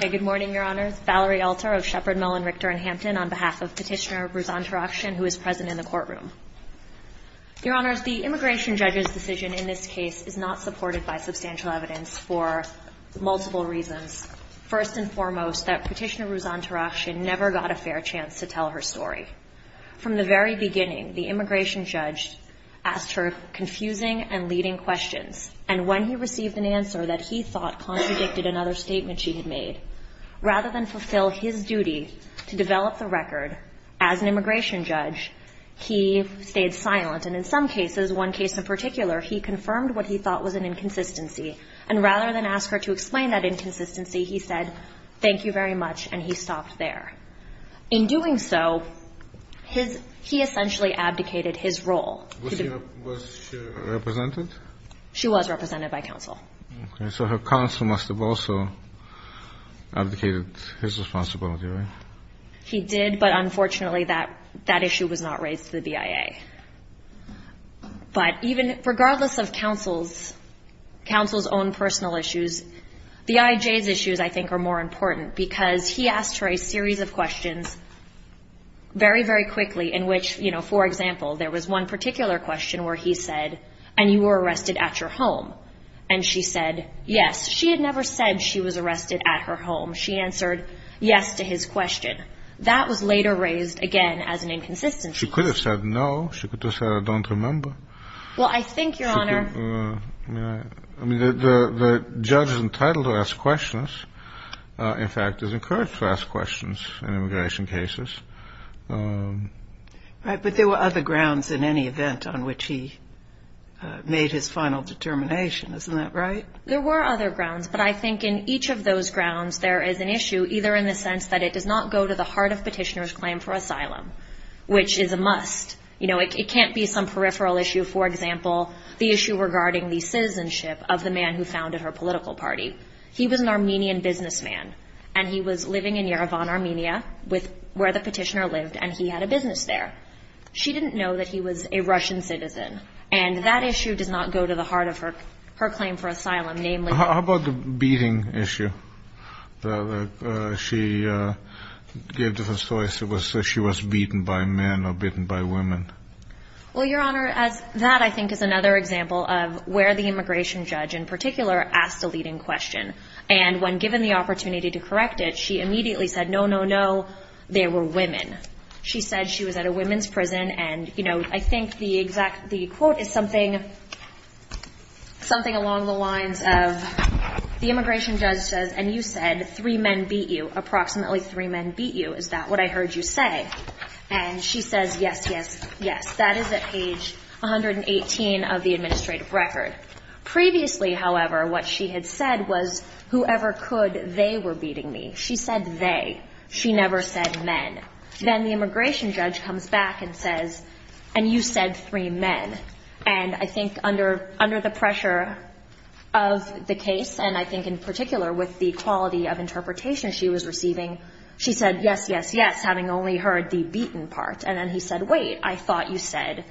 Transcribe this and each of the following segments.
Good morning, Your Honors. Valerie Alter of Shepherd, Mellon, Richter, and Hampton on behalf of Petitioner Ruzan Tarakhchyan, who is present in the courtroom. Your Honors, the immigration judge's decision in this case is not supported by substantial evidence for multiple reasons. First and foremost, that Petitioner Ruzan Tarakhchyan never got a fair chance to tell her story. From the very beginning, the immigration judge asked her confusing and leading questions. And when he received an answer that he thought contradicted another statement she had made, rather than fulfill his duty to develop the record as an immigration judge, he stayed silent. And in some cases, one case in particular, he confirmed what he thought was an inconsistency. And rather than ask her to explain that inconsistency, he said, thank you very much, and he stopped there. In doing so, he essentially abdicated his role. Was she represented? She was represented by counsel. So her counsel must have also abdicated his responsibility. He did, but unfortunately, that issue was not raised to the BIA. But even regardless of counsel's own personal issues, the IJ's issues, I think, are more important. Because he asked her a series of questions very, very quickly in which, for example, there was one particular question where he said, and you were arrested at your home. And she said, yes. She had never said she was arrested at her home. She answered yes to his question. That was later raised again as an inconsistency. She could have said no. She could have said, I don't remember. Well, I think, Your Honor. I mean, the judge is entitled to ask questions. In fact, is encouraged to ask questions in immigration cases. But there were other grounds in any event on which he made his final determination. Isn't that right? There were other grounds. But I think in each of those grounds, there is an issue, either in the sense that it does not go to the heart of petitioner's claim for asylum, which is a must. You know, it can't be some peripheral issue. For example, the issue regarding the citizenship of the man who founded her political party. He was an Armenian businessman. And he was living in Yerevan, Armenia, where the petitioner lived. And he had a business there. She didn't know that he was a Russian citizen. And that issue does not go to the heart of her claim for asylum, namely. How about the beating issue? She gave different stories. She was beaten by men or bitten by women. Well, Your Honor, that, I think, is another example of where the immigration judge, in particular, asked a leading question. And when given the opportunity to correct it, she immediately said, no, no, no. They were women. She said she was at a women's prison. And I think the quote is something along the lines of, the immigration judge says, and you said, three men beat you. Approximately three men beat you. Is that what I heard you say? And she says, yes, yes, yes. That is at page 118 of the administrative record. Previously, however, what she had said was, whoever could, they were beating me. She said they. She never said men. Then the immigration judge comes back and says, and you said three men. And I think under the pressure of the case, and I think in particular with the quality of interpretation she was receiving, she said, yes, yes, yes, having only heard the beaten part. And then he said, wait, I thought you said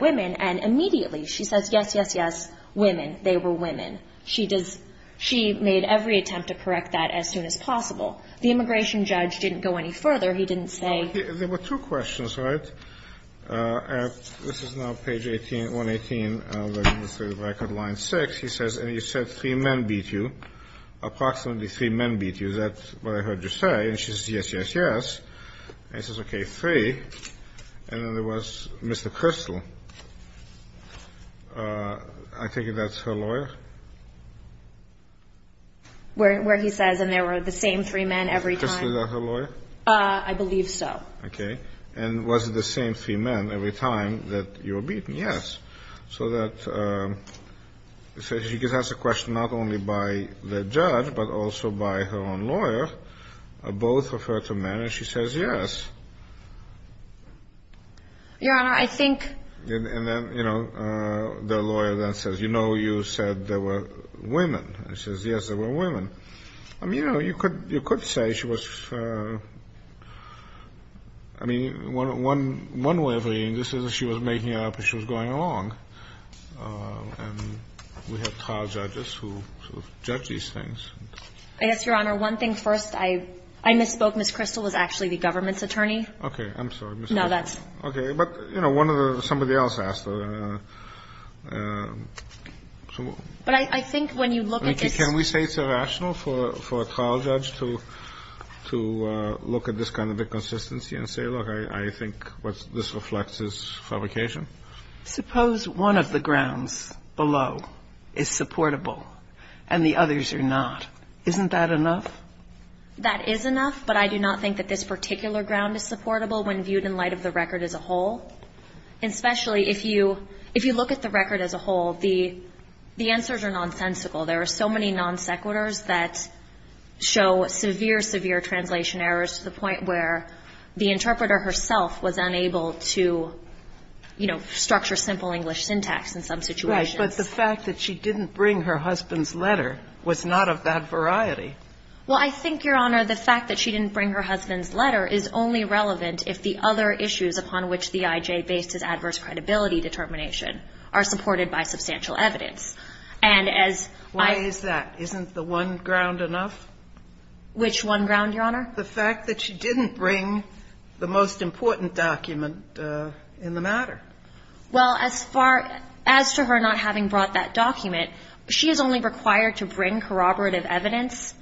women. And immediately, she says, yes, yes, yes, women. They were women. She made every attempt to correct that as soon as possible. The immigration judge didn't go any further. He didn't say. There were two questions, right? This is now page 118 of the administrative record, line 6. He says, and you said three men beat you. Approximately three men beat you. Is that what I heard you say? And she says, yes, yes, yes. And he says, OK, three. And then there was Mr. Crystal. I think that's her lawyer. Where he says, and there were the same three men every time. Is that her lawyer? I believe so. OK. And was it the same three men every time that you were beaten? Yes. So that she gets asked a question not only by the judge, but also by her own lawyer, both of her two men. And she says, yes. Your Honor, I think. And then the lawyer then says, you know you said that, there were women. And she says, yes, there were women. I mean, you could say she was, I mean, one way of reading this is that she was making it up as she was going along. And we have trial judges who judge these things. I guess, Your Honor, one thing first. I misspoke. Ms. Crystal was actually the government's attorney. OK. I'm sorry. No, that's. OK. But, you know, one of the, somebody else asked. But I think when you look at this. Can we say it's irrational for a trial judge to look at this kind of inconsistency and say, look, I think what this reflects is fabrication? Suppose one of the grounds below is supportable and the others are not. Isn't that enough? That is enough. But I do not think that this particular ground is supportable when viewed in light of the record as a whole. Especially if you look at the record as a whole, the answers are nonsensical. There are so many non sequiturs that show severe, severe translation errors to the point where the interpreter herself was unable to structure simple English syntax in some situations. But the fact that she didn't bring her husband's letter was not of that variety. that she didn't bring her husband's letter is only relevant if the other issues upon which the IJ based its adverse credibility determination are supported by substantial evidence. And as I- Why is that? Isn't the one ground enough? Which one ground, Your Honor? The fact that she didn't bring the most important document in the matter. Well, as far, as to her not having brought that document, she is only required to bring corroborative evidence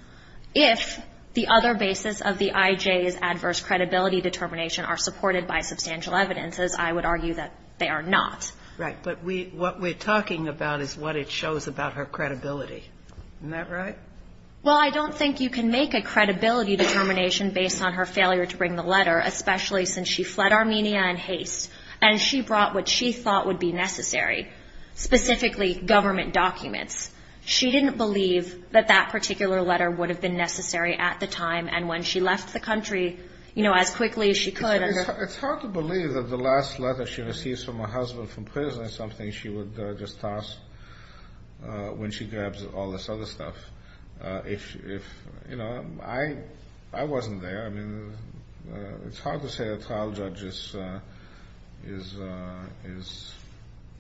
if the other basis of the IJ's adverse credibility determination are supported by substantial evidence, as I would argue that they are not. Right, but what we're talking about is what it shows about her credibility. Isn't that right? Well, I don't think you can make a credibility determination based on her failure to bring the letter, especially since she fled Armenia in haste and she brought what she thought would be necessary, specifically government documents. She didn't believe that that particular letter would have been necessary at the time and when she left the country, you know, as quickly as she could. It's hard to believe that the last letter she receives from her husband from prison is something she would just toss when she grabs all this other stuff. If, you know, I wasn't there. I mean, it's hard to say a trial judge is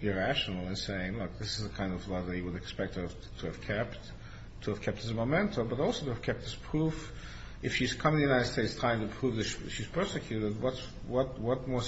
irrational in saying, look, this is the kind of letter you would expect her to have kept, to have kept as a memento, but also to have kept as proof. If she's come to the United States trying to prove that she's persecuted, what more significant evidence would she have?